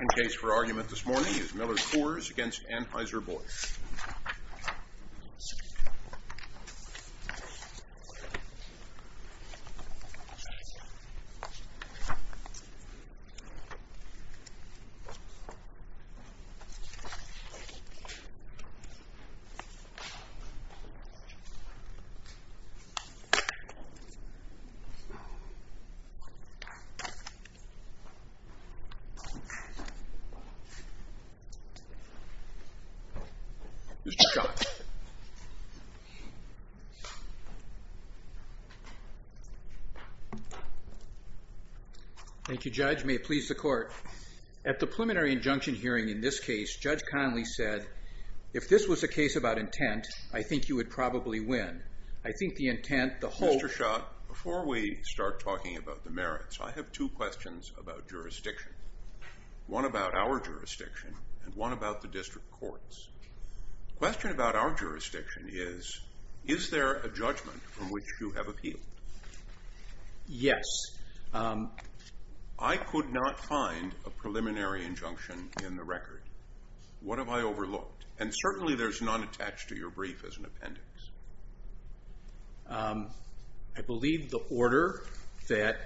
The case for argument this morning is Miller Coors v. Anheuser-Busch Mr. Schott. Thank you, Judge. May it please the Court. At the preliminary injunction hearing in this case, Judge Connolly said, if this was a case about intent, I think you would probably win. I think the intent, the hope... Mr. Schott, before we start talking about the merits, I have two questions about jurisdiction. One about our jurisdiction, and one about the district courts. The question about our jurisdiction is, is there a judgment from which you have appealed? Yes. I could not find a preliminary injunction in the record. What have I overlooked? And certainly there's none attached to your brief as an appendix. I believe the order that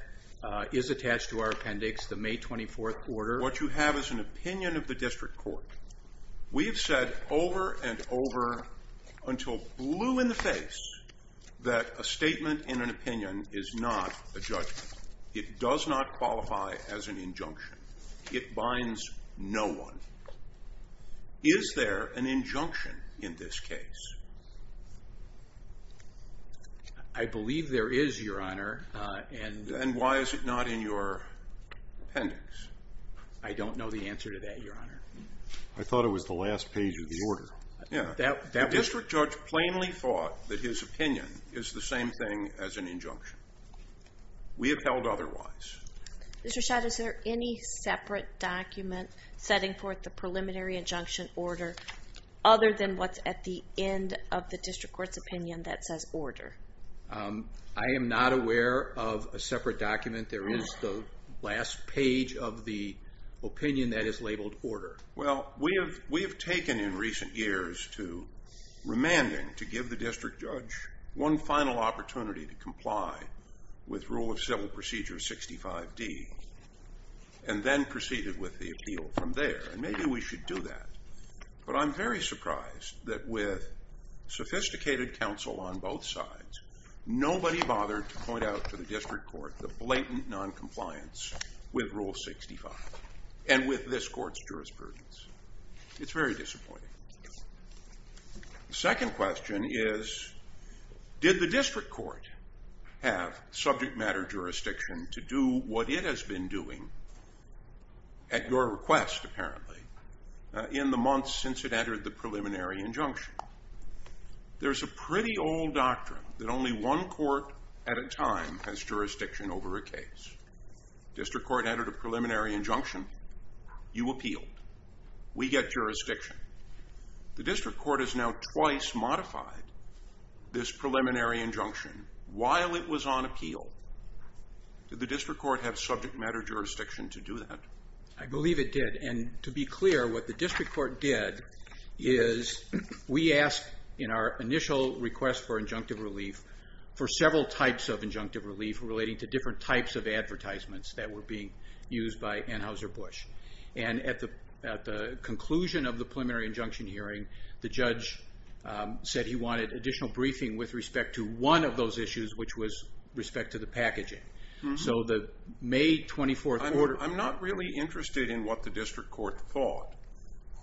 is attached to our appendix, the May 24th order... What you have is an opinion of the district court. We have said over and over until blue in the face that a statement in an opinion is not a judgment. It does not qualify as an injunction. It binds no one. Is there an injunction in this case? I believe there is, Your Honor. And why is it not in your appendix? I don't know the answer to that, Your Honor. I thought it was the last page of the order. The district judge plainly thought that his opinion is the same thing as an injunction. We have held otherwise. Mr. Schott, is there any separate document setting forth the preliminary injunction order other than what's at the end of the district court's opinion that says order? I am not aware of a separate document. There is the last page of the opinion that is labeled order. Well, we have taken in recent years to remanding to give the district judge one final opportunity to comply with Rule of Civil Procedure 65D and then proceeded with the appeal from there. Maybe we should do that, but I'm very surprised that with sophisticated counsel on both sides, nobody bothered to point out to the district court the blatant noncompliance with Rule 65 and with this court's jurisprudence. It's very disappointing. The second question is, did the district court have subject matter jurisdiction to do what it has been doing, at your request apparently, in the months since it entered the preliminary injunction? There's a pretty old doctrine that only one court at a time has jurisdiction over a case. District court entered a preliminary injunction. You appealed. We get jurisdiction. The district court has now twice modified this preliminary injunction while it was on appeal. Did the district court have subject matter jurisdiction to do that? I believe it did, and to be clear, what the district court did is we asked in our initial request for injunctive relief for several types of injunctive relief relating to different types of advertisements that were being used by Anheuser-Busch. At the conclusion of the preliminary injunction hearing, the judge said he wanted additional briefing with respect to one of those issues, which was respect to the packaging. So the May 24th order... I'm not really interested in what the district court thought.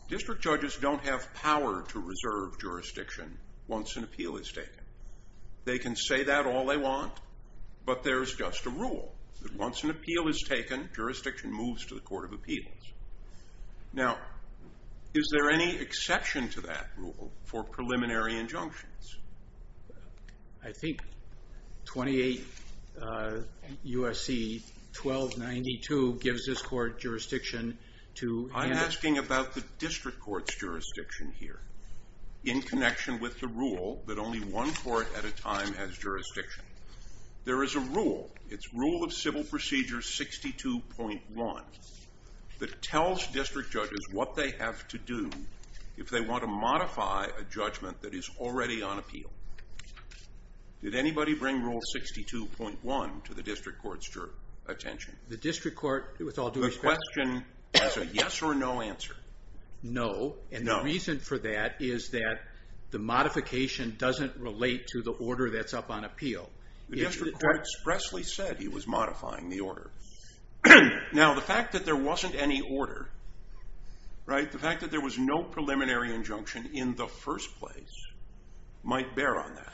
District judges don't have power to reserve jurisdiction once an appeal is taken. They can say that all they want, but there's just a rule that once an appeal is taken, jurisdiction moves to the court of appeals. Now, is there any exception to that rule for preliminary injunctions? I think 28 U.S.C. 1292 gives this court jurisdiction to... I'm asking about the district court's jurisdiction here in connection with the rule that only one court at a time has jurisdiction. There is a rule. It's Rule of Civil Procedure 62.1 that tells district judges what they have to do if they want to modify a judgment that is already on appeal. Did anybody bring Rule 62.1 to the district court's attention? The question is a yes or no answer. No, and the reason for that is that the modification doesn't relate to the order that's up on appeal. The district court expressly said he was modifying the order. Now, the fact that there wasn't any order, the fact that there was no preliminary injunction in the first place, might bear on that.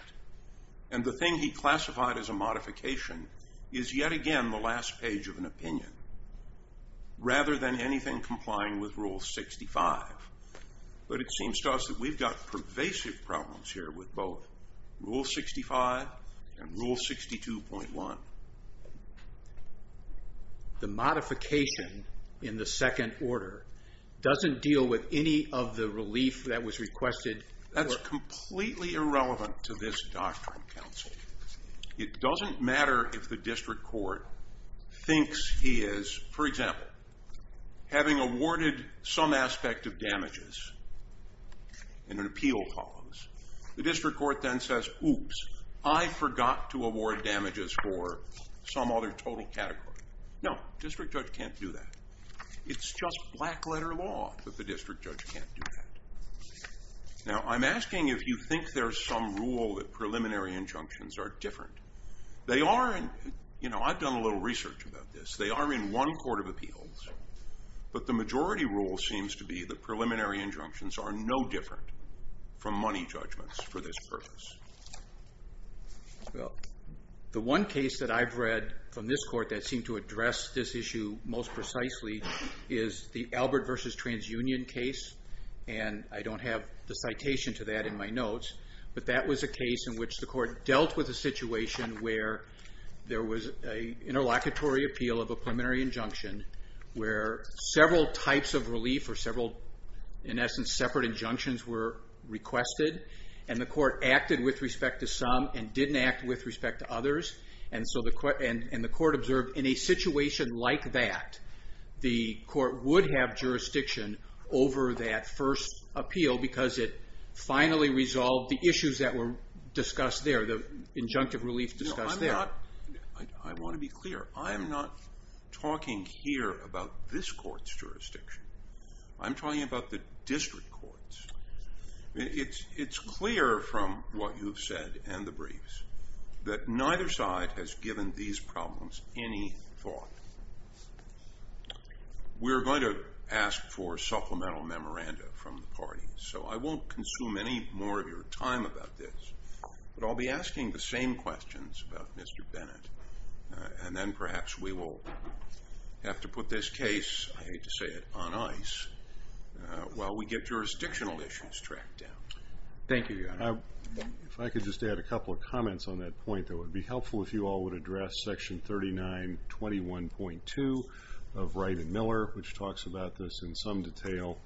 And the thing he classified as a modification is yet again the last page of an opinion, rather than anything complying with Rule 65. But it seems to us that we've got pervasive problems here with both Rule 65 and Rule 62.1. The modification in the second order doesn't deal with any of the relief that was requested? That's completely irrelevant to this doctrine, counsel. It doesn't matter if the district court thinks he is, for example, having awarded some aspect of damages in an appeal clause. The district court then says, oops, I forgot to award damages for some other total category. No, district judge can't do that. It's just black letter law that the district judge can't do that. Now, I'm asking if you think there's some rule that preliminary injunctions are different. I've done a little research about this. They are in one court of appeals, but the majority rule seems to be that preliminary injunctions are no different from money judgments for this purpose. The one case that I've read from this court that seemed to address this issue most precisely is the Albert v. TransUnion case. And I don't have the citation to that in my notes. But that was a case in which the court dealt with a situation where there was an interlocutory appeal of a preliminary injunction, where several types of relief or several, in essence, separate injunctions were requested. And the court acted with respect to some and didn't act with respect to others. And the court observed in a situation like that, the court would have jurisdiction over that first appeal because it finally resolved the issues that were discussed there, the injunctive relief discussed there. I want to be clear. I'm not talking here about this court's jurisdiction. I'm talking about the district court's. It's clear from what you've said and the briefs that neither side has given these problems any thought. We're going to ask for supplemental memoranda from the party, so I won't consume any more of your time about this. But I'll be asking the same questions about Mr. Bennett. And then perhaps we will have to put this case, I hate to say it, on ice while we get jurisdictional issues tracked down. Thank you, Your Honor. If I could just add a couple of comments on that point, it would be helpful if you all would address Section 3921.2 of Wright and Miller, which talks about this in some detail.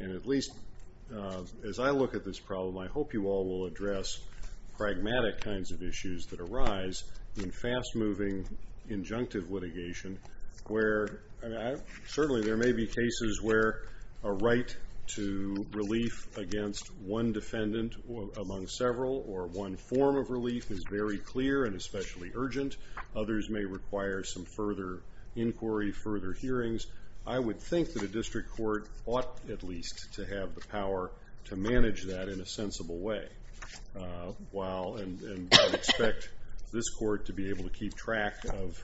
And at least as I look at this problem, I hope you all will address pragmatic kinds of issues that arise in fast-moving injunctive litigation, where certainly there may be cases where a right to relief against one defendant among several or one form of relief is very clear and especially urgent. Others may require some further inquiry, further hearings. I would think that a district court ought at least to have the power to manage that in a sensible way. And I would expect this court to be able to keep track of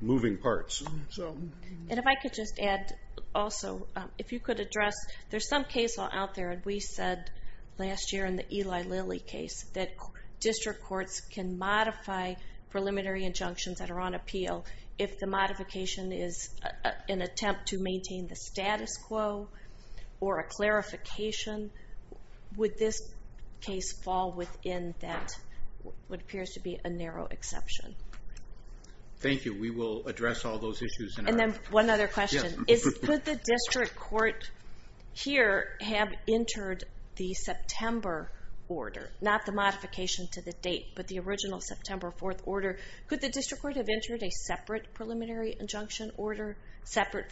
moving parts. And if I could just add also, if you could address, there's some case law out there, and we said last year in the Eli Lilly case, that district courts can modify preliminary injunctions that are on appeal if the modification is an attempt to maintain the status quo or a clarification. Would this case fall within that, what appears to be a narrow exception? Thank you. We will address all those issues. And then one other question. Could the district court here have entered the September order, not the modification to the date, but the original September 4th order? Could the district court have entered a separate preliminary injunction order, Thank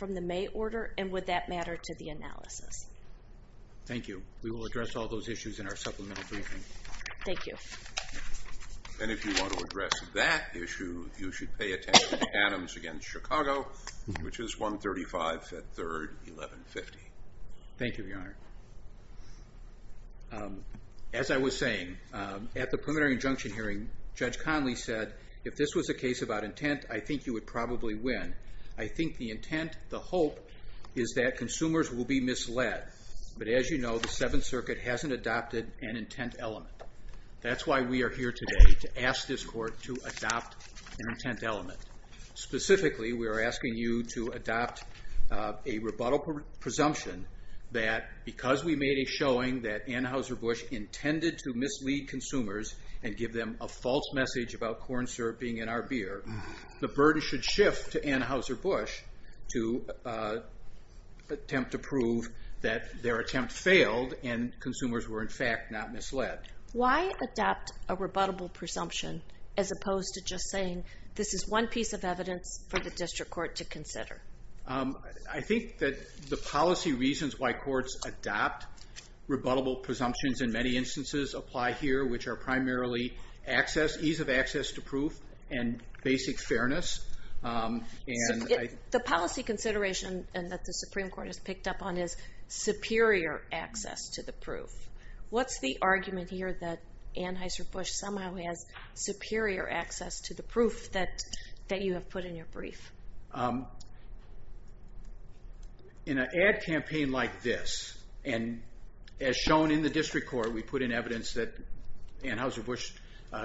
you. We will address all those issues in our supplemental briefing. Thank you. And if you want to address that issue, you should pay attention to Adams against Chicago, which is 135 at 3rd, 1150. Thank you, Your Honor. As I was saying, at the preliminary injunction hearing, Judge Conley said, if this was a case about intent, I think you would probably win. I think the intent, the hope, is that consumers will be misled. But as you know, the Seventh Circuit hasn't adopted an intent element. That's why we are here today, to ask this court to adopt an intent element. Specifically, we are asking you to adopt a rebuttal presumption that because we made a showing that Anheuser-Busch intended to mislead consumers and give them a false message about corn syrup being in our beer, the burden should shift to Anheuser-Busch to attempt to prove that their attempt failed and consumers were, in fact, not misled. Why adopt a rebuttable presumption as opposed to just saying, this is one piece of evidence for the district court to consider? I think that the policy reasons why courts adopt rebuttable presumptions in many instances apply here, which are primarily ease of access to proof and basic fairness. The policy consideration that the Supreme Court has picked up on is superior access to the proof. What's the argument here that Anheuser-Busch somehow has superior access to the proof that you have put in your brief? In an ad campaign like this, and as shown in the district court, we put in evidence that Anheuser-Busch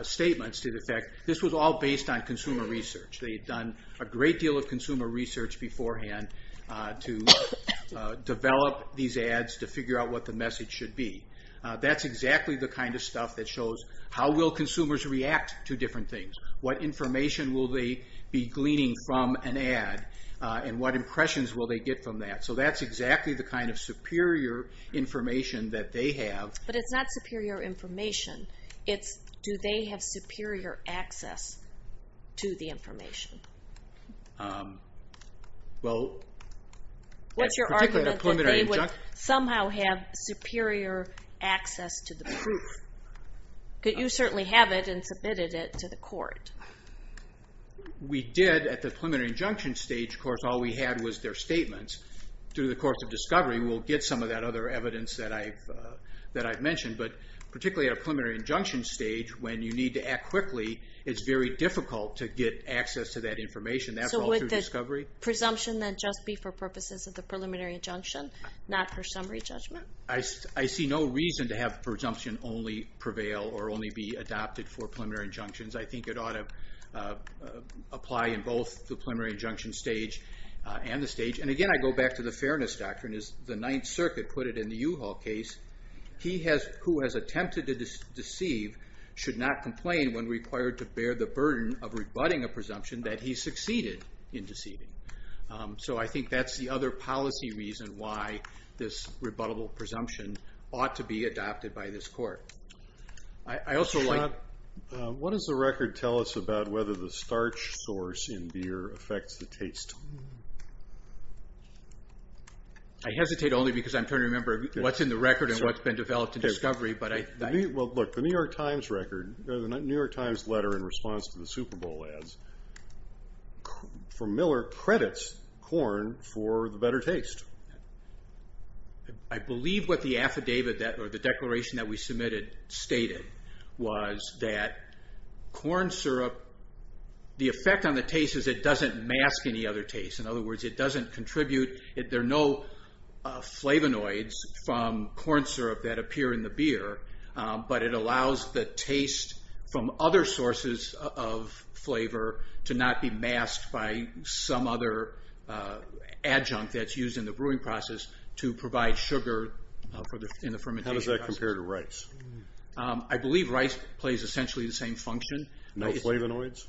statements to the fact that this was all based on consumer research. They had done a great deal of consumer research beforehand to develop these ads to figure out what the message should be. That's exactly the kind of stuff that shows how will consumers react to different things, what information will they be gleaning from an ad, and what impressions will they get from that. So that's exactly the kind of superior information that they have. But it's not superior information. It's do they have superior access to the information. What's your argument that they would somehow have superior access to the proof? You certainly have it and submitted it to the court. We did at the preliminary injunction stage. Of course, all we had was their statements. Through the course of discovery, we'll get some of that other evidence that I've mentioned. But particularly at a preliminary injunction stage, when you need to act quickly, it's very difficult to get access to that information. That's all through discovery. So would the presumption then just be for purposes of the preliminary injunction, not for summary judgment? I see no reason to have presumption only prevail or only be adopted for preliminary injunctions. I think it ought to apply in both the preliminary injunction stage and the stage. And, again, I go back to the fairness doctrine. As the Ninth Circuit put it in the U-Haul case, he who has attempted to deceive should not complain when required to bear the burden of rebutting a presumption that he succeeded in deceiving. So I think that's the other policy reason why this rebuttable presumption ought to be adopted by this court. Scott, what does the record tell us about whether the starch source in beer affects the taste? I hesitate only because I'm trying to remember what's in the record and what's been developed in discovery. Well, look, the New York Times record, the New York Times letter in response to the Super Bowl ads, from Miller, credits corn for the better taste. I believe what the affidavit or the declaration that we submitted stated was that corn syrup, the effect on the taste is it doesn't mask any other taste. In other words, it doesn't contribute. There are no flavonoids from corn syrup that appear in the beer, but it allows the taste from other sources of flavor to not be masked by some other adjunct that's used in the brewing process to provide sugar in the fermentation process. How does that compare to rice? I believe rice plays essentially the same function. No flavonoids?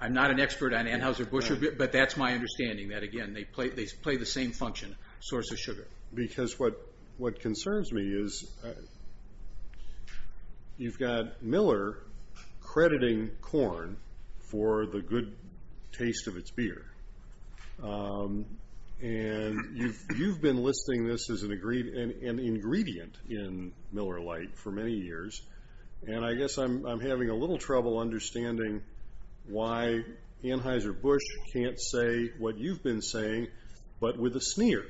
I'm not an expert on Anheuser-Busch, but that's my understanding, that, again, they play the same function, source of sugar. Because what concerns me is you've got Miller crediting corn for the good taste of its beer. And you've been listing this as an ingredient in Miller Lite for many years, and I guess I'm having a little trouble understanding why Anheuser-Busch can't say what you've been saying but with a sneer.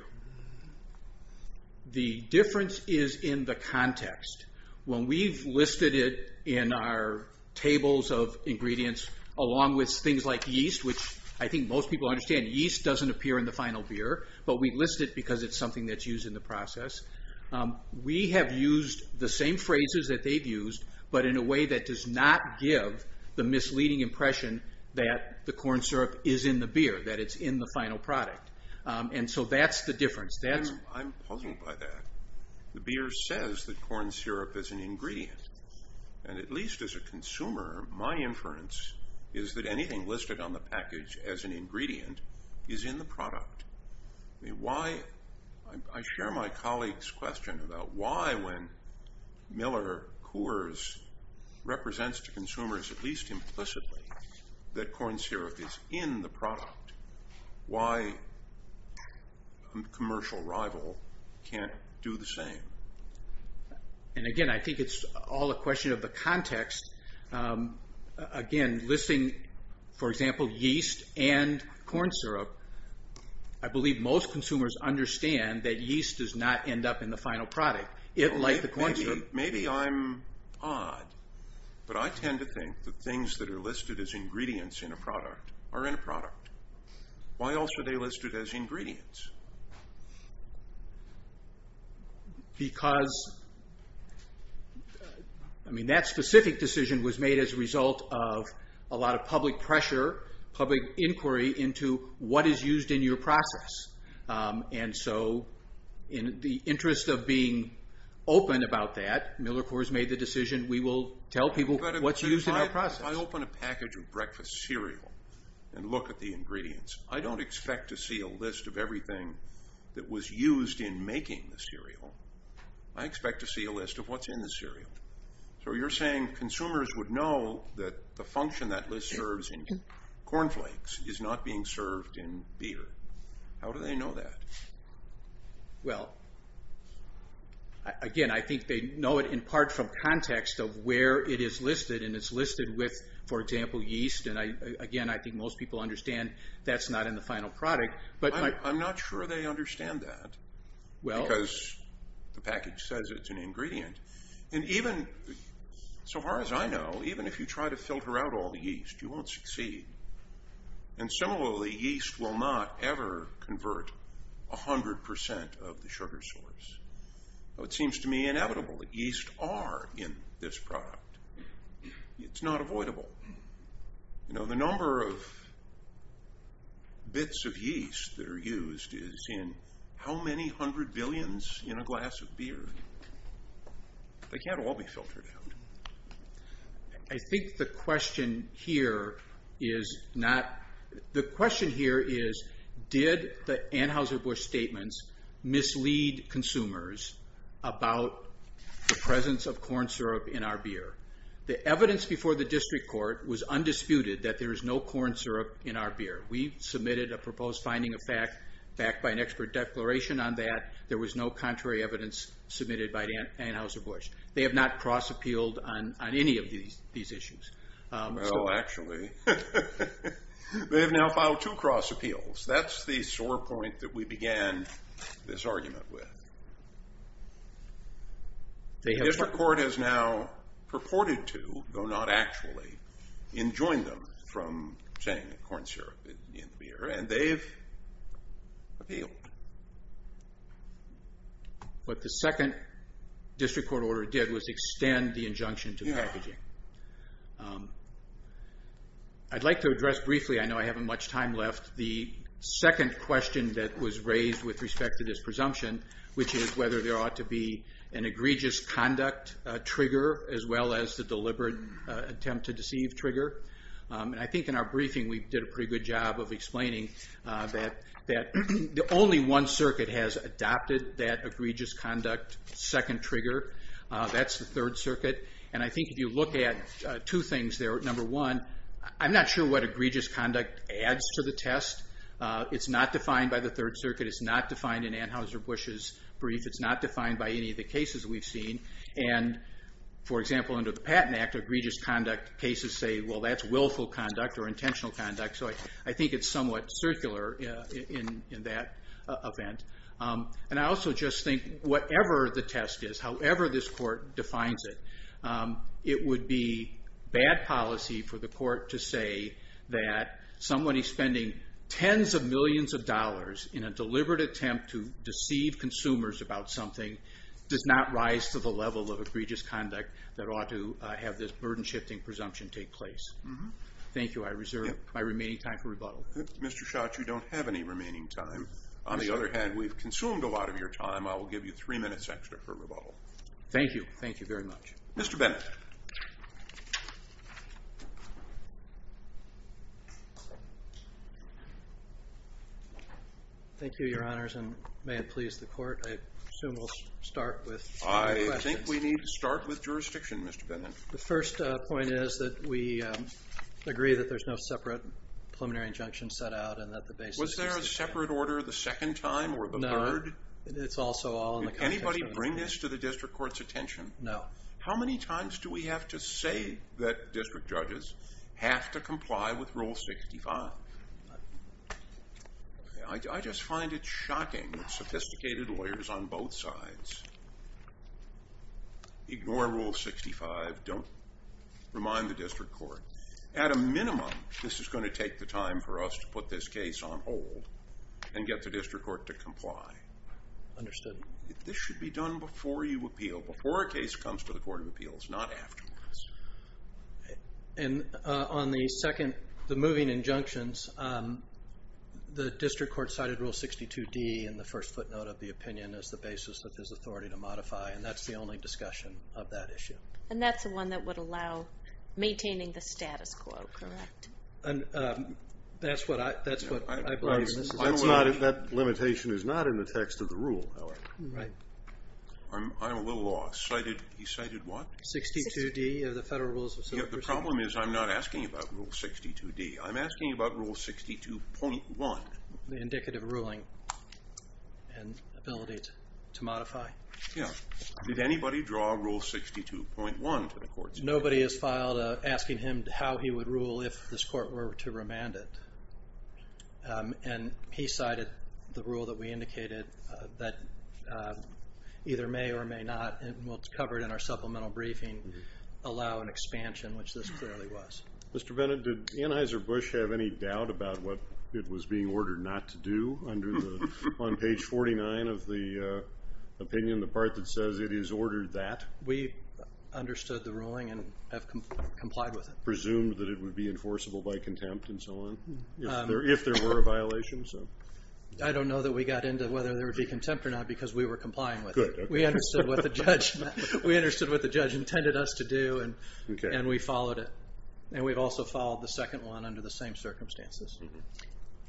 The difference is in the context. When we've listed it in our tables of ingredients along with things like yeast, which I think most people understand yeast doesn't appear in the final beer, but we list it because it's something that's used in the process. We have used the same phrases that they've used, but in a way that does not give the misleading impression that the corn syrup is in the beer, that it's in the final product. And so that's the difference. I'm puzzled by that. The beer says that corn syrup is an ingredient. And at least as a consumer, my inference is that anything listed on the package as an ingredient is in the product. I share my colleague's question about why when Miller Coors represents to consumers, at least implicitly, that corn syrup is in the product, why a commercial rival can't do the same. And, again, I think it's all a question of the context. Again, listing, for example, yeast and corn syrup, I believe most consumers understand that yeast does not end up in the final product. Maybe I'm odd, but I tend to think that things that are listed as ingredients in a product are in a product. Why else are they listed as ingredients? Because, I mean, that specific decision was made as a result of a lot of public pressure, public inquiry into what is used in your process. And so in the interest of being open about that, Miller Coors made the decision, we will tell people what's used in our process. If I open a package of breakfast cereal and look at the ingredients, I don't expect to see a list of everything that was used in making the cereal. I expect to see a list of what's in the cereal. So you're saying consumers would know that the function that list serves in cornflakes is not being served in beer. How do they know that? Well, again, I think they know it in part from context of where it is listed, and it's listed with, for example, yeast. And, again, I think most people understand that's not in the final product. I'm not sure they understand that because the package says it's an ingredient. And even so far as I know, even if you try to filter out all the yeast, you won't succeed. And similarly, yeast will not ever convert 100% of the sugar source. It seems to me inevitable that yeast are in this product. It's not avoidable. The number of bits of yeast that are used is in how many hundred billions in a glass of beer? They can't all be filtered out. I think the question here is not the question here is did the Anheuser-Busch statements mislead consumers about the presence of corn syrup in our beer. The evidence before the district court was undisputed that there is no corn syrup in our beer. We submitted a proposed finding of fact backed by an expert declaration on that. There was no contrary evidence submitted by the Anheuser-Busch. They have not cross-appealed on any of these issues. Well, actually, they have now filed two cross-appeals. That's the sore point that we began this argument with. The district court has now purported to, though not actually, enjoined them from saying that corn syrup is in beer, and they've appealed. What the second district court order did was extend the injunction to packaging. I'd like to address briefly, I know I haven't much time left, the second question that was raised with respect to this presumption, which is whether there ought to be an egregious conduct trigger as well as the deliberate attempt to deceive trigger. I think in our briefing we did a pretty good job of explaining that only one circuit has adopted that egregious conduct second trigger. That's the Third Circuit. I think if you look at two things there, number one, I'm not sure what egregious conduct adds to the test. It's not defined by the Third Circuit. It's not defined in Anheuser-Busch's brief. It's not defined by any of the cases we've seen. For example, under the Patent Act, egregious conduct cases say, well, that's willful conduct or intentional conduct. I think it's somewhat circular in that event. I also just think whatever the test is, however this court defines it, it would be bad policy for the court to say that somebody spending tens of millions of dollars in a deliberate attempt to deceive consumers about something does not rise to the level of egregious conduct that ought to have this burden-shifting presumption take place. Thank you. I reserve my remaining time for rebuttal. Mr. Schott, you don't have any remaining time. On the other hand, we've consumed a lot of your time. I will give you three minutes extra for rebuttal. Thank you. Thank you very much. Mr. Bennett. Thank you, Your Honors, and may it please the court. I assume we'll start with questions. I think we need to start with jurisdiction, Mr. Bennett. The first point is that we agree that there's no separate preliminary injunction set out and that the basis is the same. Is that separate order the second time or the third? No, it's also all in the context of this case. Did anybody bring this to the district court's attention? No. How many times do we have to say that district judges have to comply with Rule 65? I just find it shocking that sophisticated lawyers on both sides ignore Rule 65, don't remind the district court. At a minimum, this is going to take the time for us to put this case on hold and get the district court to comply. Understood. This should be done before you appeal, before a case comes to the Court of Appeals, not afterwards. And on the second, the moving injunctions, the district court cited Rule 62D in the first footnote of the opinion as the basis of his authority to modify, and that's the only discussion of that issue. And that's the one that would allow maintaining the status quo, correct? That's what I believe. That limitation is not in the text of the rule, however. Right. I'm a little lost. He cited what? 62D of the Federal Rules of Civil Procedure. The problem is I'm not asking about Rule 62D, I'm asking about Rule 62.1. The indicative ruling and ability to modify? Yeah. Did anybody draw Rule 62.1 to the courts? Nobody has filed asking him how he would rule if this court were to remand it. And he cited the rule that we indicated that either may or may not, and what's covered in our supplemental briefing, allow an expansion, which this clearly was. Mr. Bennett, did Anheuser-Busch have any doubt about what it was being ordered not to do on page 49 of the opinion, the part that says it is ordered that? We understood the ruling and have complied with it. Presumed that it would be enforceable by contempt and so on, if there were a violation? I don't know that we got into whether there would be contempt or not because we were complying with it. We understood what the judge intended us to do and we followed it. And we've also followed the second one under the same circumstances.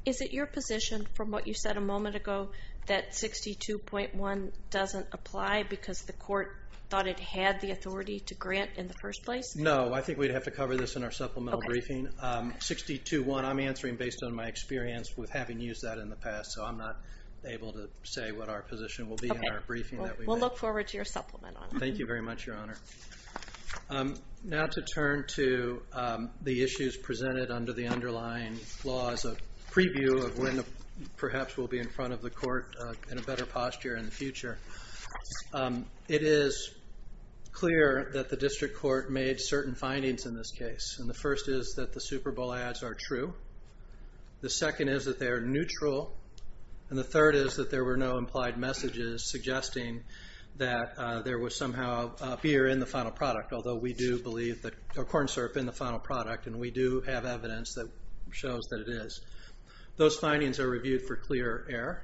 Is it your position, from what you said a moment ago, that 62.1 doesn't apply because the court thought it had the authority to grant in the first place? No, I think we'd have to cover this in our supplemental briefing. 62.1, I'm answering based on my experience with having used that in the past, so I'm not able to say what our position will be in our briefing. We'll look forward to your supplement on it. Thank you very much, Your Honor. Now to turn to the issues presented under the underlying law as a preview of when perhaps we'll be in front of the court in a better posture in the future. It is clear that the district court made certain findings in this case. And the first is that the Super Bowl ads are true. The second is that they are neutral. And the third is that there were no implied messages suggesting that there was somehow beer in the final product, although we do believe that corn syrup in the final product and we do have evidence that shows that it is. Those findings are reviewed for clear error.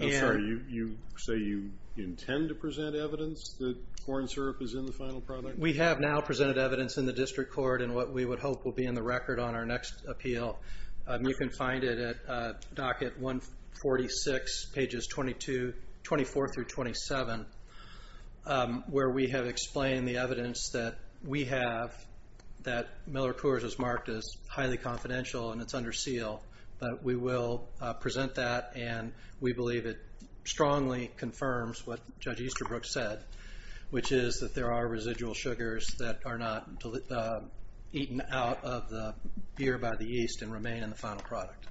I'm sorry, you say you intend to present evidence that corn syrup is in the final product? We have now presented evidence in the district court in what we would hope will be in the record on our next appeal. You can find it at Docket 146, pages 24 through 27, where we have explained the evidence that we have, that Miller Coors is marked as highly confidential and it's under seal. But we will present that and we believe it strongly confirms what Judge Easterbrook said, which is that there are residual sugars that are not eaten out of the beer by the yeast and remain in the final product.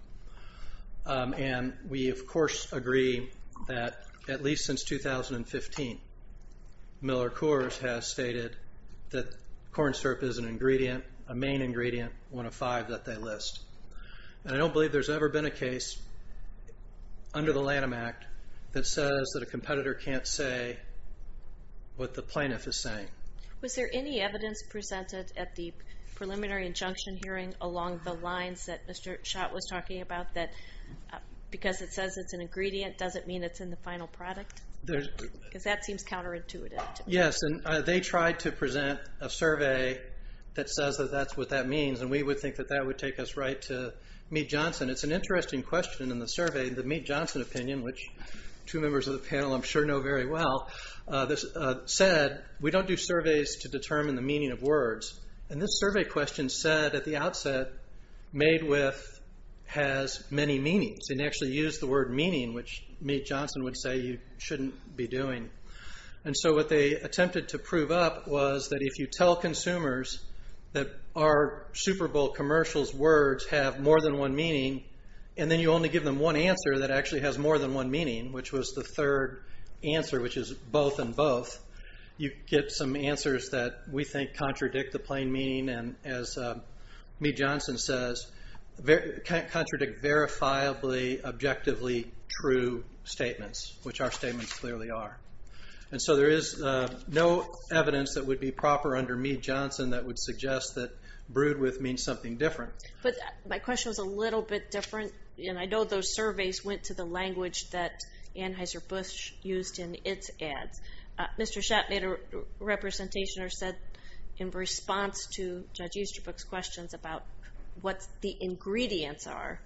And we, of course, agree that at least since 2015, Miller Coors has stated that corn syrup is an ingredient, a main ingredient, one of five that they list. And I don't believe there's ever been a case under the Lanham Act that says that a competitor can't say what the plaintiff is saying. Was there any evidence presented at the preliminary injunction hearing along the lines that Mr. Schott was talking about, that because it says it's an ingredient, does it mean it's in the final product? Because that seems counterintuitive to me. Yes, and they tried to present a survey that says that that's what that means, and we would think that that would take us right to Mead-Johnson. It's an interesting question in the survey. The Mead-Johnson opinion, which two members of the panel I'm sure know very well, said, we don't do surveys to determine the meaning of words. And this survey question said at the outset, made with has many meanings. They actually used the word meaning, which Mead-Johnson would say you shouldn't be doing. And so what they attempted to prove up was that if you tell consumers that our Super Bowl commercials words have more than one meaning, and then you only give them one answer that actually has more than one meaning, which was the third answer, which is both and both, you get some answers that we think contradict the plain meaning and, as Mead-Johnson says, contradict verifiably, objectively true statements, which our statements clearly are. And so there is no evidence that would be proper under Mead-Johnson that would suggest that brewed with means something different. But my question was a little bit different, and I know those surveys went to the language that Anheuser-Busch used in its ads. Mr. Schott made a representation or said in response to Judge Easterbrook's questions about what the ingredients are,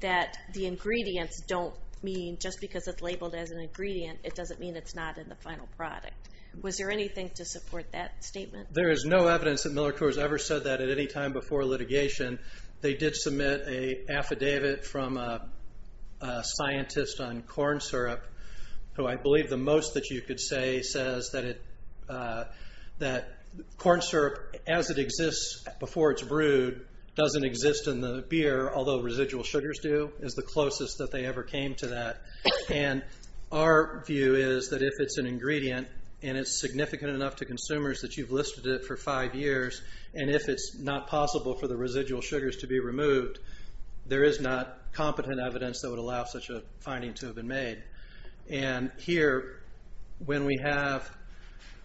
that the ingredients don't mean just because it's labeled as an ingredient, it doesn't mean it's not in the final product. Was there anything to support that statement? There is no evidence that Miller Coors ever said that at any time before litigation. They did submit an affidavit from a scientist on corn syrup who I believe the most that you could say says that corn syrup, as it exists before it's brewed, doesn't exist in the beer, although residual sugars do, is the closest that they ever came to that. And our view is that if it's an ingredient and it's significant enough to consumers that you've listed it for five years, and if it's not possible for the residual sugars to be removed, there is not competent evidence that would allow such a finding to have been made. And here, when we have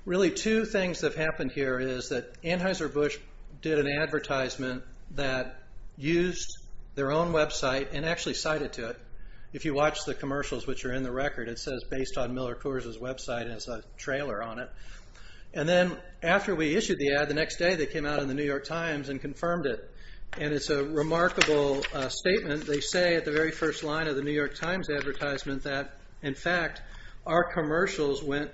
really two things that have happened here is that Anheuser-Busch did an advertisement that used their own website and actually cited to it. If you watch the commercials which are in the record, it says based on Miller Coors' website, and it has a trailer on it. And then after we issued the ad, the next day they came out in the New York Times and confirmed it. And it's a remarkable statement. They say at the very first line of the New York Times advertisement that, in fact, our commercials went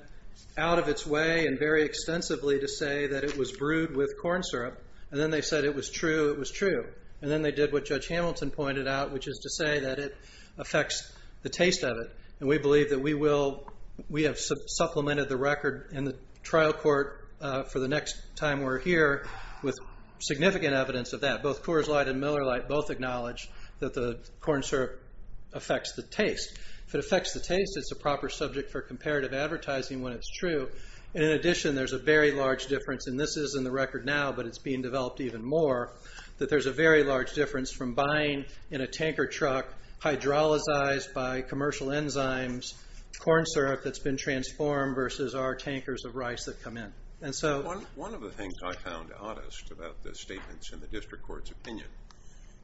out of its way and very extensively to say that it was brewed with corn syrup. And then they said it was true. It was true. And then they did what Judge Hamilton pointed out, which is to say that it affects the taste of it. And we believe that we have supplemented the record in the trial court for the next time we're here with significant evidence of that. Both Coors Light and Miller Light both acknowledge that the corn syrup affects the taste. If it affects the taste, it's a proper subject for comparative advertising when it's true. In addition, there's a very large difference, and this is in the record now, but it's being developed even more, that there's a very large difference from buying in a tanker truck hydrolyzed by commercial enzymes corn syrup that's been transformed versus our tankers of rice that come in. One of the things I found oddest about the statements in the district court's opinion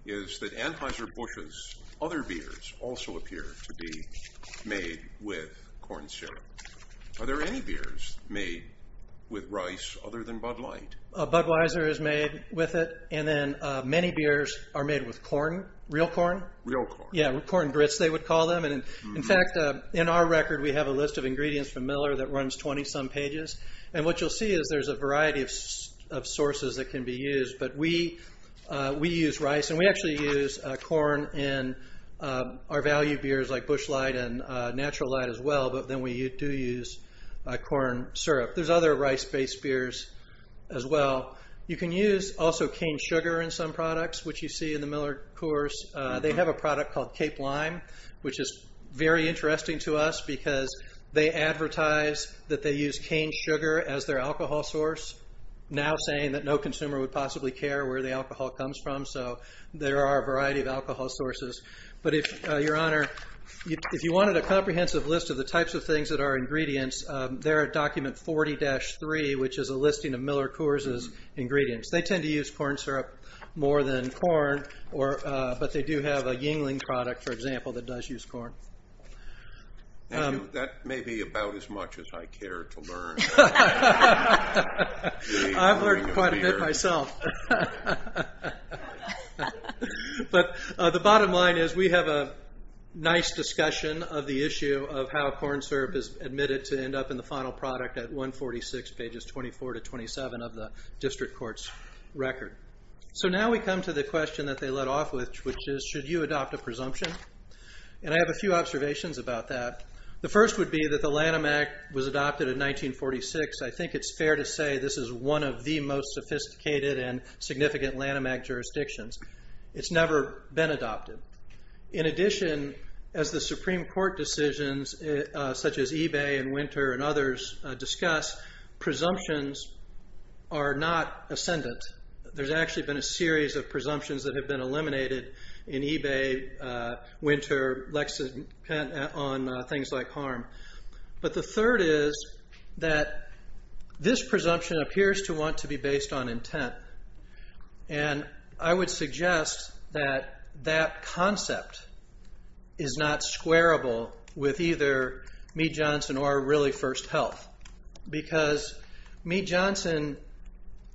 is that Anheuser-Busch's other beers also appear to be made with corn syrup. Are there any beers made with rice other than Bud Light? Budweiser is made with it, and then many beers are made with corn, real corn. Real corn. Yeah, corn grits they would call them. In fact, in our record we have a list of ingredients from Miller that runs 20-some pages, and what you'll see is there's a variety of sources that can be used. But we use rice, and we actually use corn in our value beers like Busch Light and Natural Light as well, but then we do use corn syrup. There's other rice-based beers as well. You can use also cane sugar in some products, which you see in the Miller course. They have a product called Cape Lime, which is very interesting to us because they advertise that they use cane sugar as their alcohol source, now saying that no consumer would possibly care where the alcohol comes from, so there are a variety of alcohol sources. But, Your Honor, if you wanted a comprehensive list of the types of things that are ingredients, they're at document 40-3, which is a listing of Miller Coors' ingredients. They tend to use corn syrup more than corn, but they do have a Yingling product, for example, that does use corn. That may be about as much as I care to learn. I've learned quite a bit myself. The bottom line is we have a nice discussion of the issue of how corn syrup is admitted to end up in the final product at 146 pages 24-27 of the district court's record. Now we come to the question that they let off with, which is, should you adopt a presumption? I have a few observations about that. The first would be that the Lanham Act was adopted in 1946. I think it's fair to say this is one of the most sophisticated and significant Lanham Act jurisdictions. It's never been adopted. In addition, as the Supreme Court decisions, such as eBay and Winter and others, discuss, presumptions are not ascendant. There's actually been a series of presumptions that have been eliminated in eBay, Winter, Lexington, on things like harm. But the third is that this presumption appears to want to be based on intent. I would suggest that that concept is not squarable with either Meat Johnson or really First Health. Because Meat Johnson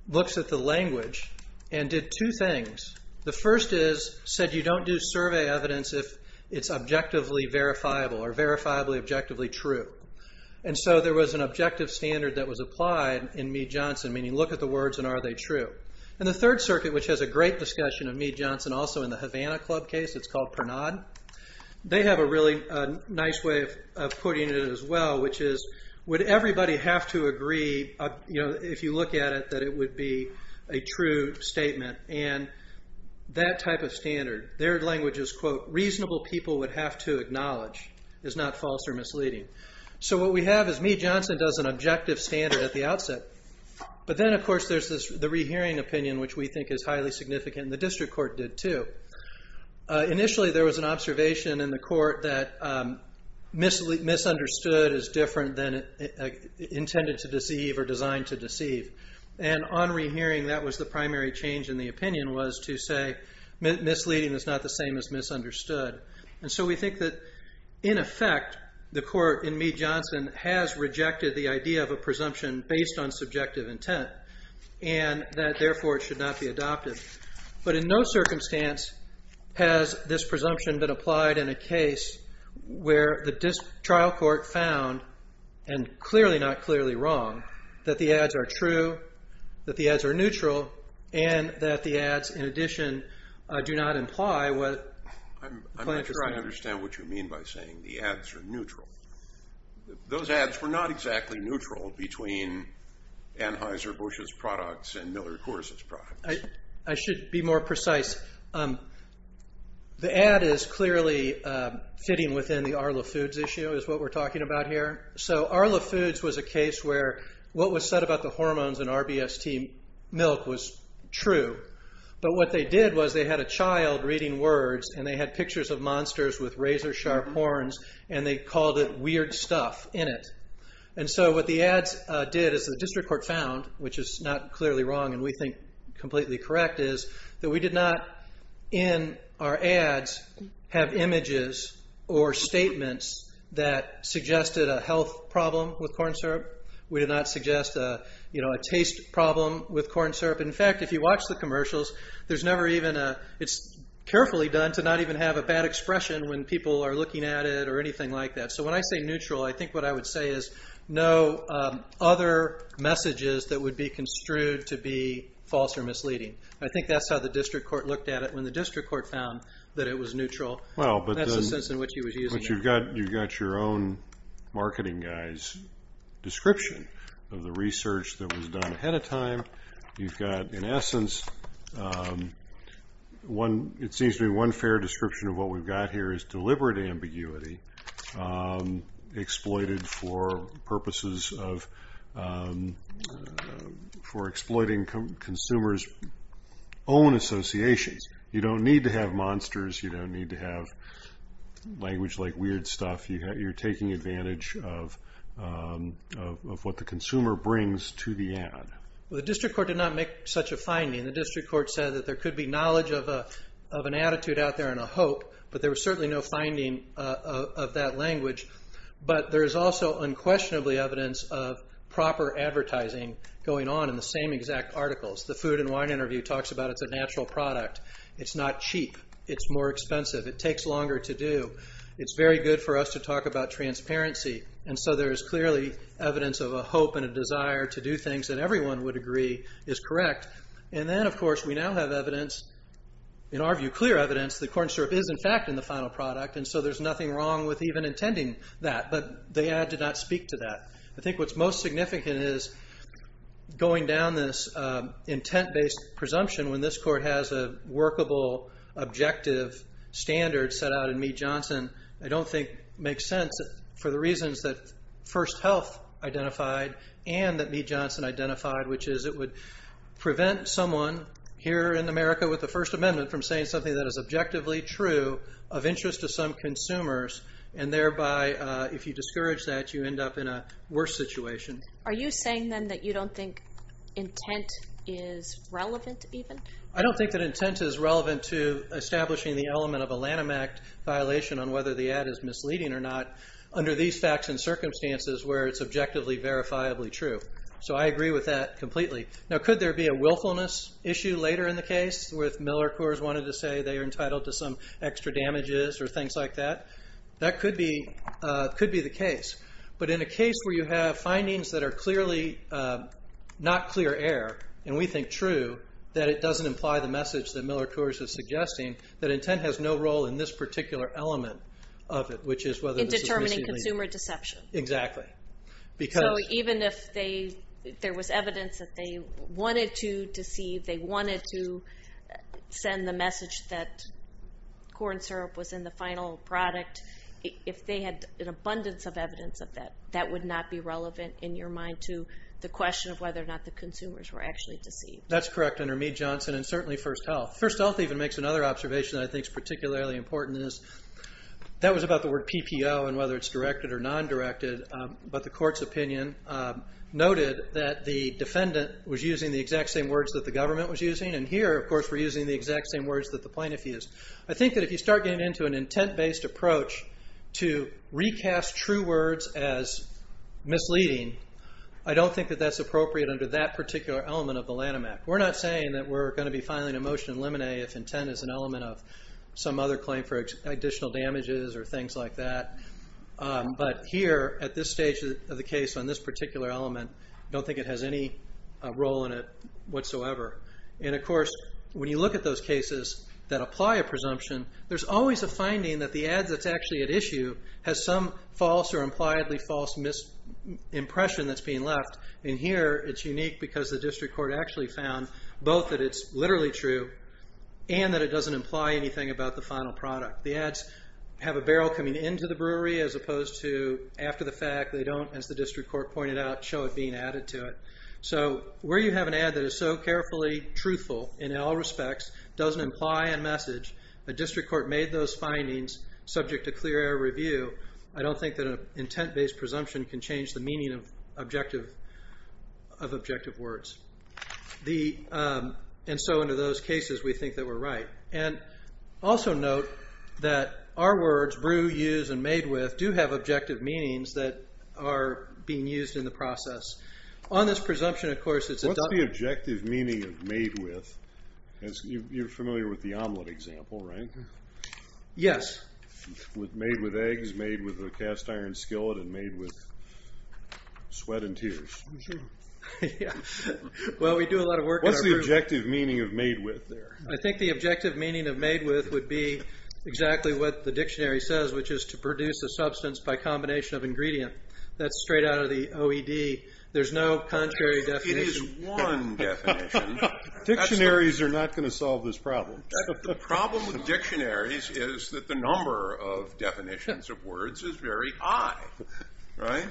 looks at the language and did two things. The first is, said you don't do survey evidence if it's objectively verifiable or verifiably objectively true. And so there was an objective standard that was applied in Meat Johnson, meaning look at the words and are they true? And the third circuit, which has a great discussion of Meat Johnson, also in the Havana Club case, it's called Pernod. They have a really nice way of putting it as well, which is, would everybody have to agree, if you look at it, that it would be a true statement? And that type of standard, their language is, quote, reasonable people would have to acknowledge is not false or misleading. So what we have is Meat Johnson does an objective standard at the outset. But then, of course, there's the rehearing opinion, which we think is highly significant. The district court did too. Initially, there was an observation in the court that misunderstood is different than intended to deceive or designed to deceive. And on rehearing, that was the primary change in the opinion was to say misleading is not the same as misunderstood. And so we think that, in effect, the court in Meat Johnson has rejected the idea of a presumption based on subjective intent and that, therefore, it should not be adopted. But in no circumstance has this presumption been applied in a case where the trial court found, and clearly not clearly wrong, that the ads are true, that the ads are neutral, and that the ads, in addition, do not imply what the plaintiff's trying to say. I'm not sure I understand what you mean by saying the ads are neutral. Those ads were not exactly neutral between Anheuser-Busch's products and Miller Coors's products. I should be more precise. The ad is clearly fitting within the Arla Foods issue, is what we're talking about here. So Arla Foods was a case where what was said about the hormones in RBST milk was true. But what they did was they had a child reading words, and they had pictures of monsters with razor-sharp horns, and they called it weird stuff in it. What the ads did, as the district court found, which is not clearly wrong and we think completely correct, is that we did not, in our ads, have images or statements that suggested a health problem with corn syrup. We did not suggest a taste problem with corn syrup. In fact, if you watch the commercials, it's carefully done to not even have a bad expression when people are looking at it or anything like that. So when I say neutral, I think what I would say is no other messages that would be construed to be false or misleading. I think that's how the district court looked at it when the district court found that it was neutral. That's the sense in which he was using it. You've got your own marketing guy's description of the research that was done ahead of time. You've got, in essence, it seems to be one fair description of what we've got here is deliberate ambiguity exploited for purposes of exploiting consumers' own associations. You don't need to have monsters. You don't need to have language like weird stuff. You're taking advantage of what the consumer brings to the ad. The district court did not make such a finding. The district court said that there could be knowledge of an attitude out there and a hope, but there was certainly no finding of that language. But there is also unquestionably evidence of proper advertising going on in the same exact articles. The food and wine interview talks about it's a natural product. It's not cheap. It's more expensive. It takes longer to do. It's very good for us to talk about transparency. And so there is clearly evidence of a hope and a desire to do things that everyone would agree is correct. And then, of course, we now have evidence, in our view, clear evidence that corn syrup is, in fact, in the final product. And so there's nothing wrong with even intending that. But the ad did not speak to that. I think what's most significant is going down this intent-based presumption when this court has a workable, objective standard set out in Meet Johnson. I don't think it makes sense for the reasons that First Health identified and that Meet Johnson identified, which is it would prevent someone here in America with the First Amendment from saying something that is objectively true of interest to some consumers. And thereby, if you discourage that, you end up in a worse situation. Are you saying, then, that you don't think intent is relevant even? I don't think that intent is relevant to establishing the element of a Lanham Act violation on whether the ad is misleading or not under these facts and circumstances where it's objectively, verifiably true. So I agree with that completely. Now, could there be a willfulness issue later in the case where if Miller Coors wanted to say they are entitled to some extra damages or things like that? That could be the case. But in a case where you have findings that are clearly not clear air, and we think true, that it doesn't imply the message that Miller Coors is suggesting, that intent has no role in this particular element of it, which is whether this is misleading. In determining consumer deception. Exactly. So even if there was evidence that they wanted to deceive, they wanted to send the message that corn syrup was in the final product, if they had an abundance of evidence of that, that would not be relevant in your mind to the question of whether or not the consumers were actually deceived. That's correct under Meade-Johnson and certainly First Health. First Health even makes another observation that I think is particularly important. That was about the word PPO and whether it's directed or non-directed. But the court's opinion noted that the defendant was using the exact same words that the government was using. And here, of course, we're using the exact same words that the plaintiff used. I think that if you start getting into an intent-based approach to recast true words as misleading, I don't think that that's appropriate under that particular element of the Lanham Act. We're not saying that we're going to be filing a motion in limine if intent is an element of some other claim for additional damages or things like that. But here, at this stage of the case on this particular element, I don't think it has any role in it whatsoever. And, of course, when you look at those cases that apply a presumption, there's always a finding that the ad that's actually at issue has some false or impliedly false impression that's being left. And here, it's unique because the district court actually found both that it's literally true and that it doesn't imply anything about the final product. The ads have a barrel coming into the brewery as opposed to after the fact. They don't, as the district court pointed out, show it being added to it. So where you have an ad that is so carefully truthful in all respects, doesn't imply a message, a district court made those findings subject to clear air review, I don't think that an intent-based presumption can change the meaning of objective words. And so, under those cases, we think that we're right. And also note that our words, brew, use, and made with, do have objective meanings that are being used in the process. On this presumption, of course, it's adopted. What's the objective meaning of made with? You're familiar with the omelet example, right? Yes. Made with eggs, made with a cast iron skillet, and made with sweat and tears. Yeah. Well, we do a lot of work. What's the objective meaning of made with there? I think the objective meaning of made with would be exactly what the dictionary says, which is to produce a substance by combination of ingredient. That's straight out of the OED. There's no contrary definition. It is one definition. Dictionaries are not going to solve this problem. The problem with dictionaries is that the number of definitions of words is very high. Right?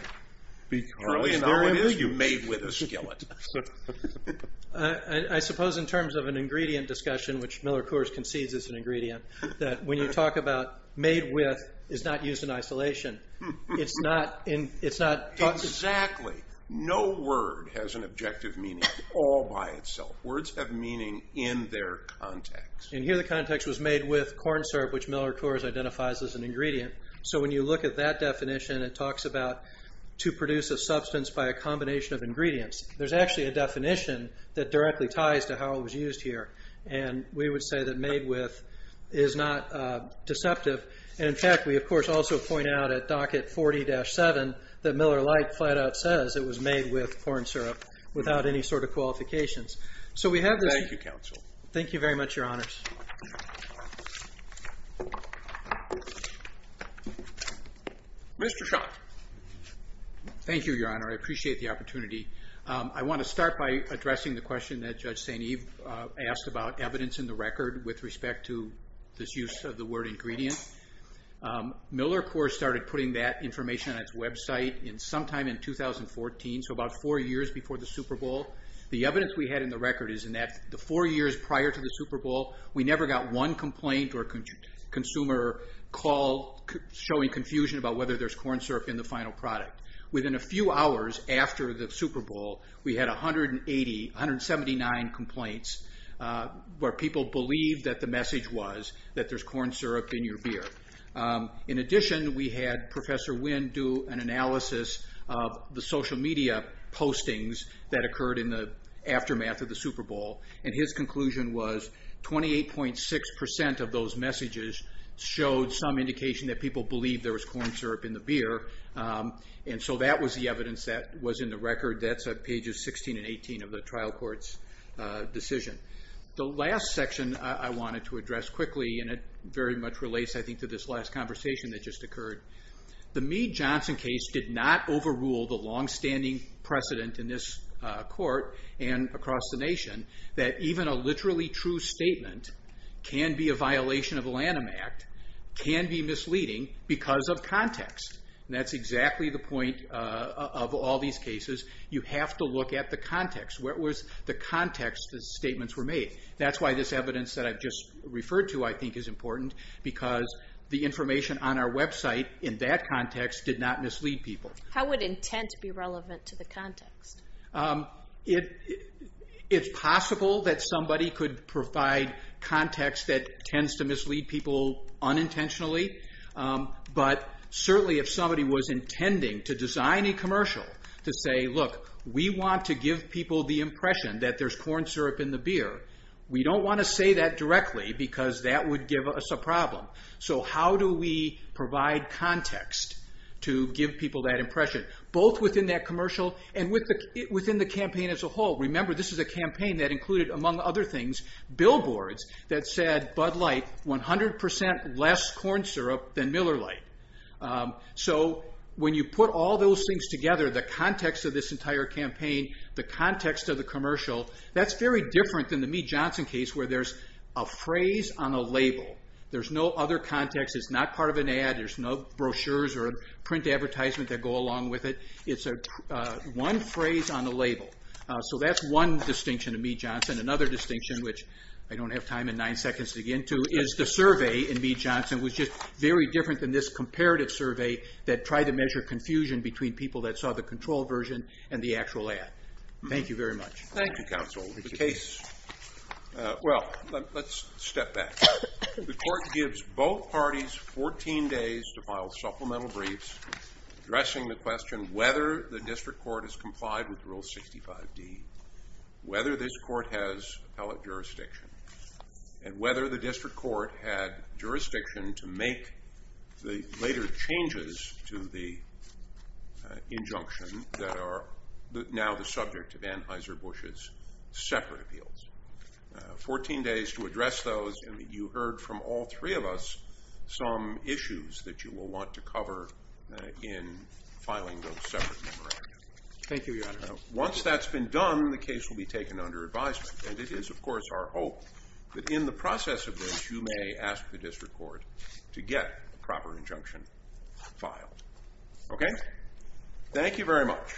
Truly, there it is, you made with a skillet. I suppose in terms of an ingredient discussion, which Miller Coors concedes is an ingredient, that when you talk about made with, it's not used in isolation. It's not talked about. Exactly. No word has an objective meaning all by itself. Words have meaning in their context. Here the context was made with corn syrup, which Miller Coors identifies as an ingredient. When you look at that definition, it talks about to produce a substance by a combination of ingredients. There's actually a definition that directly ties to how it was used here. We would say that made with is not deceptive. In fact, we, of course, also point out at docket 40-7 that Miller Light flat out says it was made with corn syrup without any sort of qualifications. Thank you, counsel. Thank you very much, Your Honors. Mr. Schott. Thank you, Your Honor. I appreciate the opportunity. I want to start by addressing the question that Judge St. Eve asked about evidence in the record with respect to this use of the word ingredient. Miller Coors started putting that information on its website sometime in 2014, so about four years before the Super Bowl. The evidence we had in the record is in the four years prior to the Super Bowl, we never got one complaint or consumer call showing confusion about whether there's corn syrup in the final product. Within a few hours after the Super Bowl, we had 180, 179 complaints where people believed that the message was that there's corn syrup in your beer. In addition, we had Professor Wynn do an analysis of the social media postings that occurred in the aftermath of the Super Bowl, and his conclusion was 28.6% of those messages showed some indication that people believed there was corn syrup in the beer, and so that was the evidence that was in the record. That's pages 16 and 18 of the trial court's decision. The last section I wanted to address quickly, and it very much relates, I think, to this last conversation that just occurred. The Meade-Johnson case did not overrule the longstanding precedent in this court and across the nation that even a literally true statement can be a violation of the Lanham Act, can be misleading because of context. That's exactly the point of all these cases. You have to look at the context. What was the context the statements were made? That's why this evidence that I've just referred to, I think, is important, because the information on our website in that context did not mislead people. How would intent be relevant to the context? It's possible that somebody could provide context that tends to mislead people unintentionally, but certainly if somebody was intending to design a commercial to say, look, we want to give people the impression that there's corn syrup in the beer, we don't want to say that directly because that would give us a problem. So how do we provide context to give people that impression, both within that commercial and within the campaign as a whole? Remember, this is a campaign that included, among other things, billboards that said, Bud Light, 100% less corn syrup than Miller Lite. So when you put all those things together, the context of this entire campaign, the context of the commercial, that's very different than the Meet Johnson case where there's a phrase on a label. There's no other context. It's not part of an ad. There's no brochures or print advertisement that go along with it. It's one phrase on a label. So that's one distinction of Meet Johnson. Another distinction, which I don't have time in nine seconds to get into, is the survey in Meet Johnson was just very different than this comparative survey that tried to measure confusion between people that saw the controlled version and the actual ad. Thank you very much. Thank you, counsel. The case, well, let's step back. The court gives both parties 14 days to file supplemental briefs addressing the question whether the district court has complied with Rule 65D, whether this court has appellate jurisdiction, and whether the district court had jurisdiction to make the later changes to the injunction that are now the subject of Anheuser-Busch's separate appeals. Fourteen days to address those, and you heard from all three of us some issues that you will want to cover in filing those separate memorandums. Thank you, Your Honor. Once that's been done, the case will be taken under advisement. And it is, of course, our hope that in the process of this, you may ask the district court to get a proper injunction filed. Okay? Thank you very much.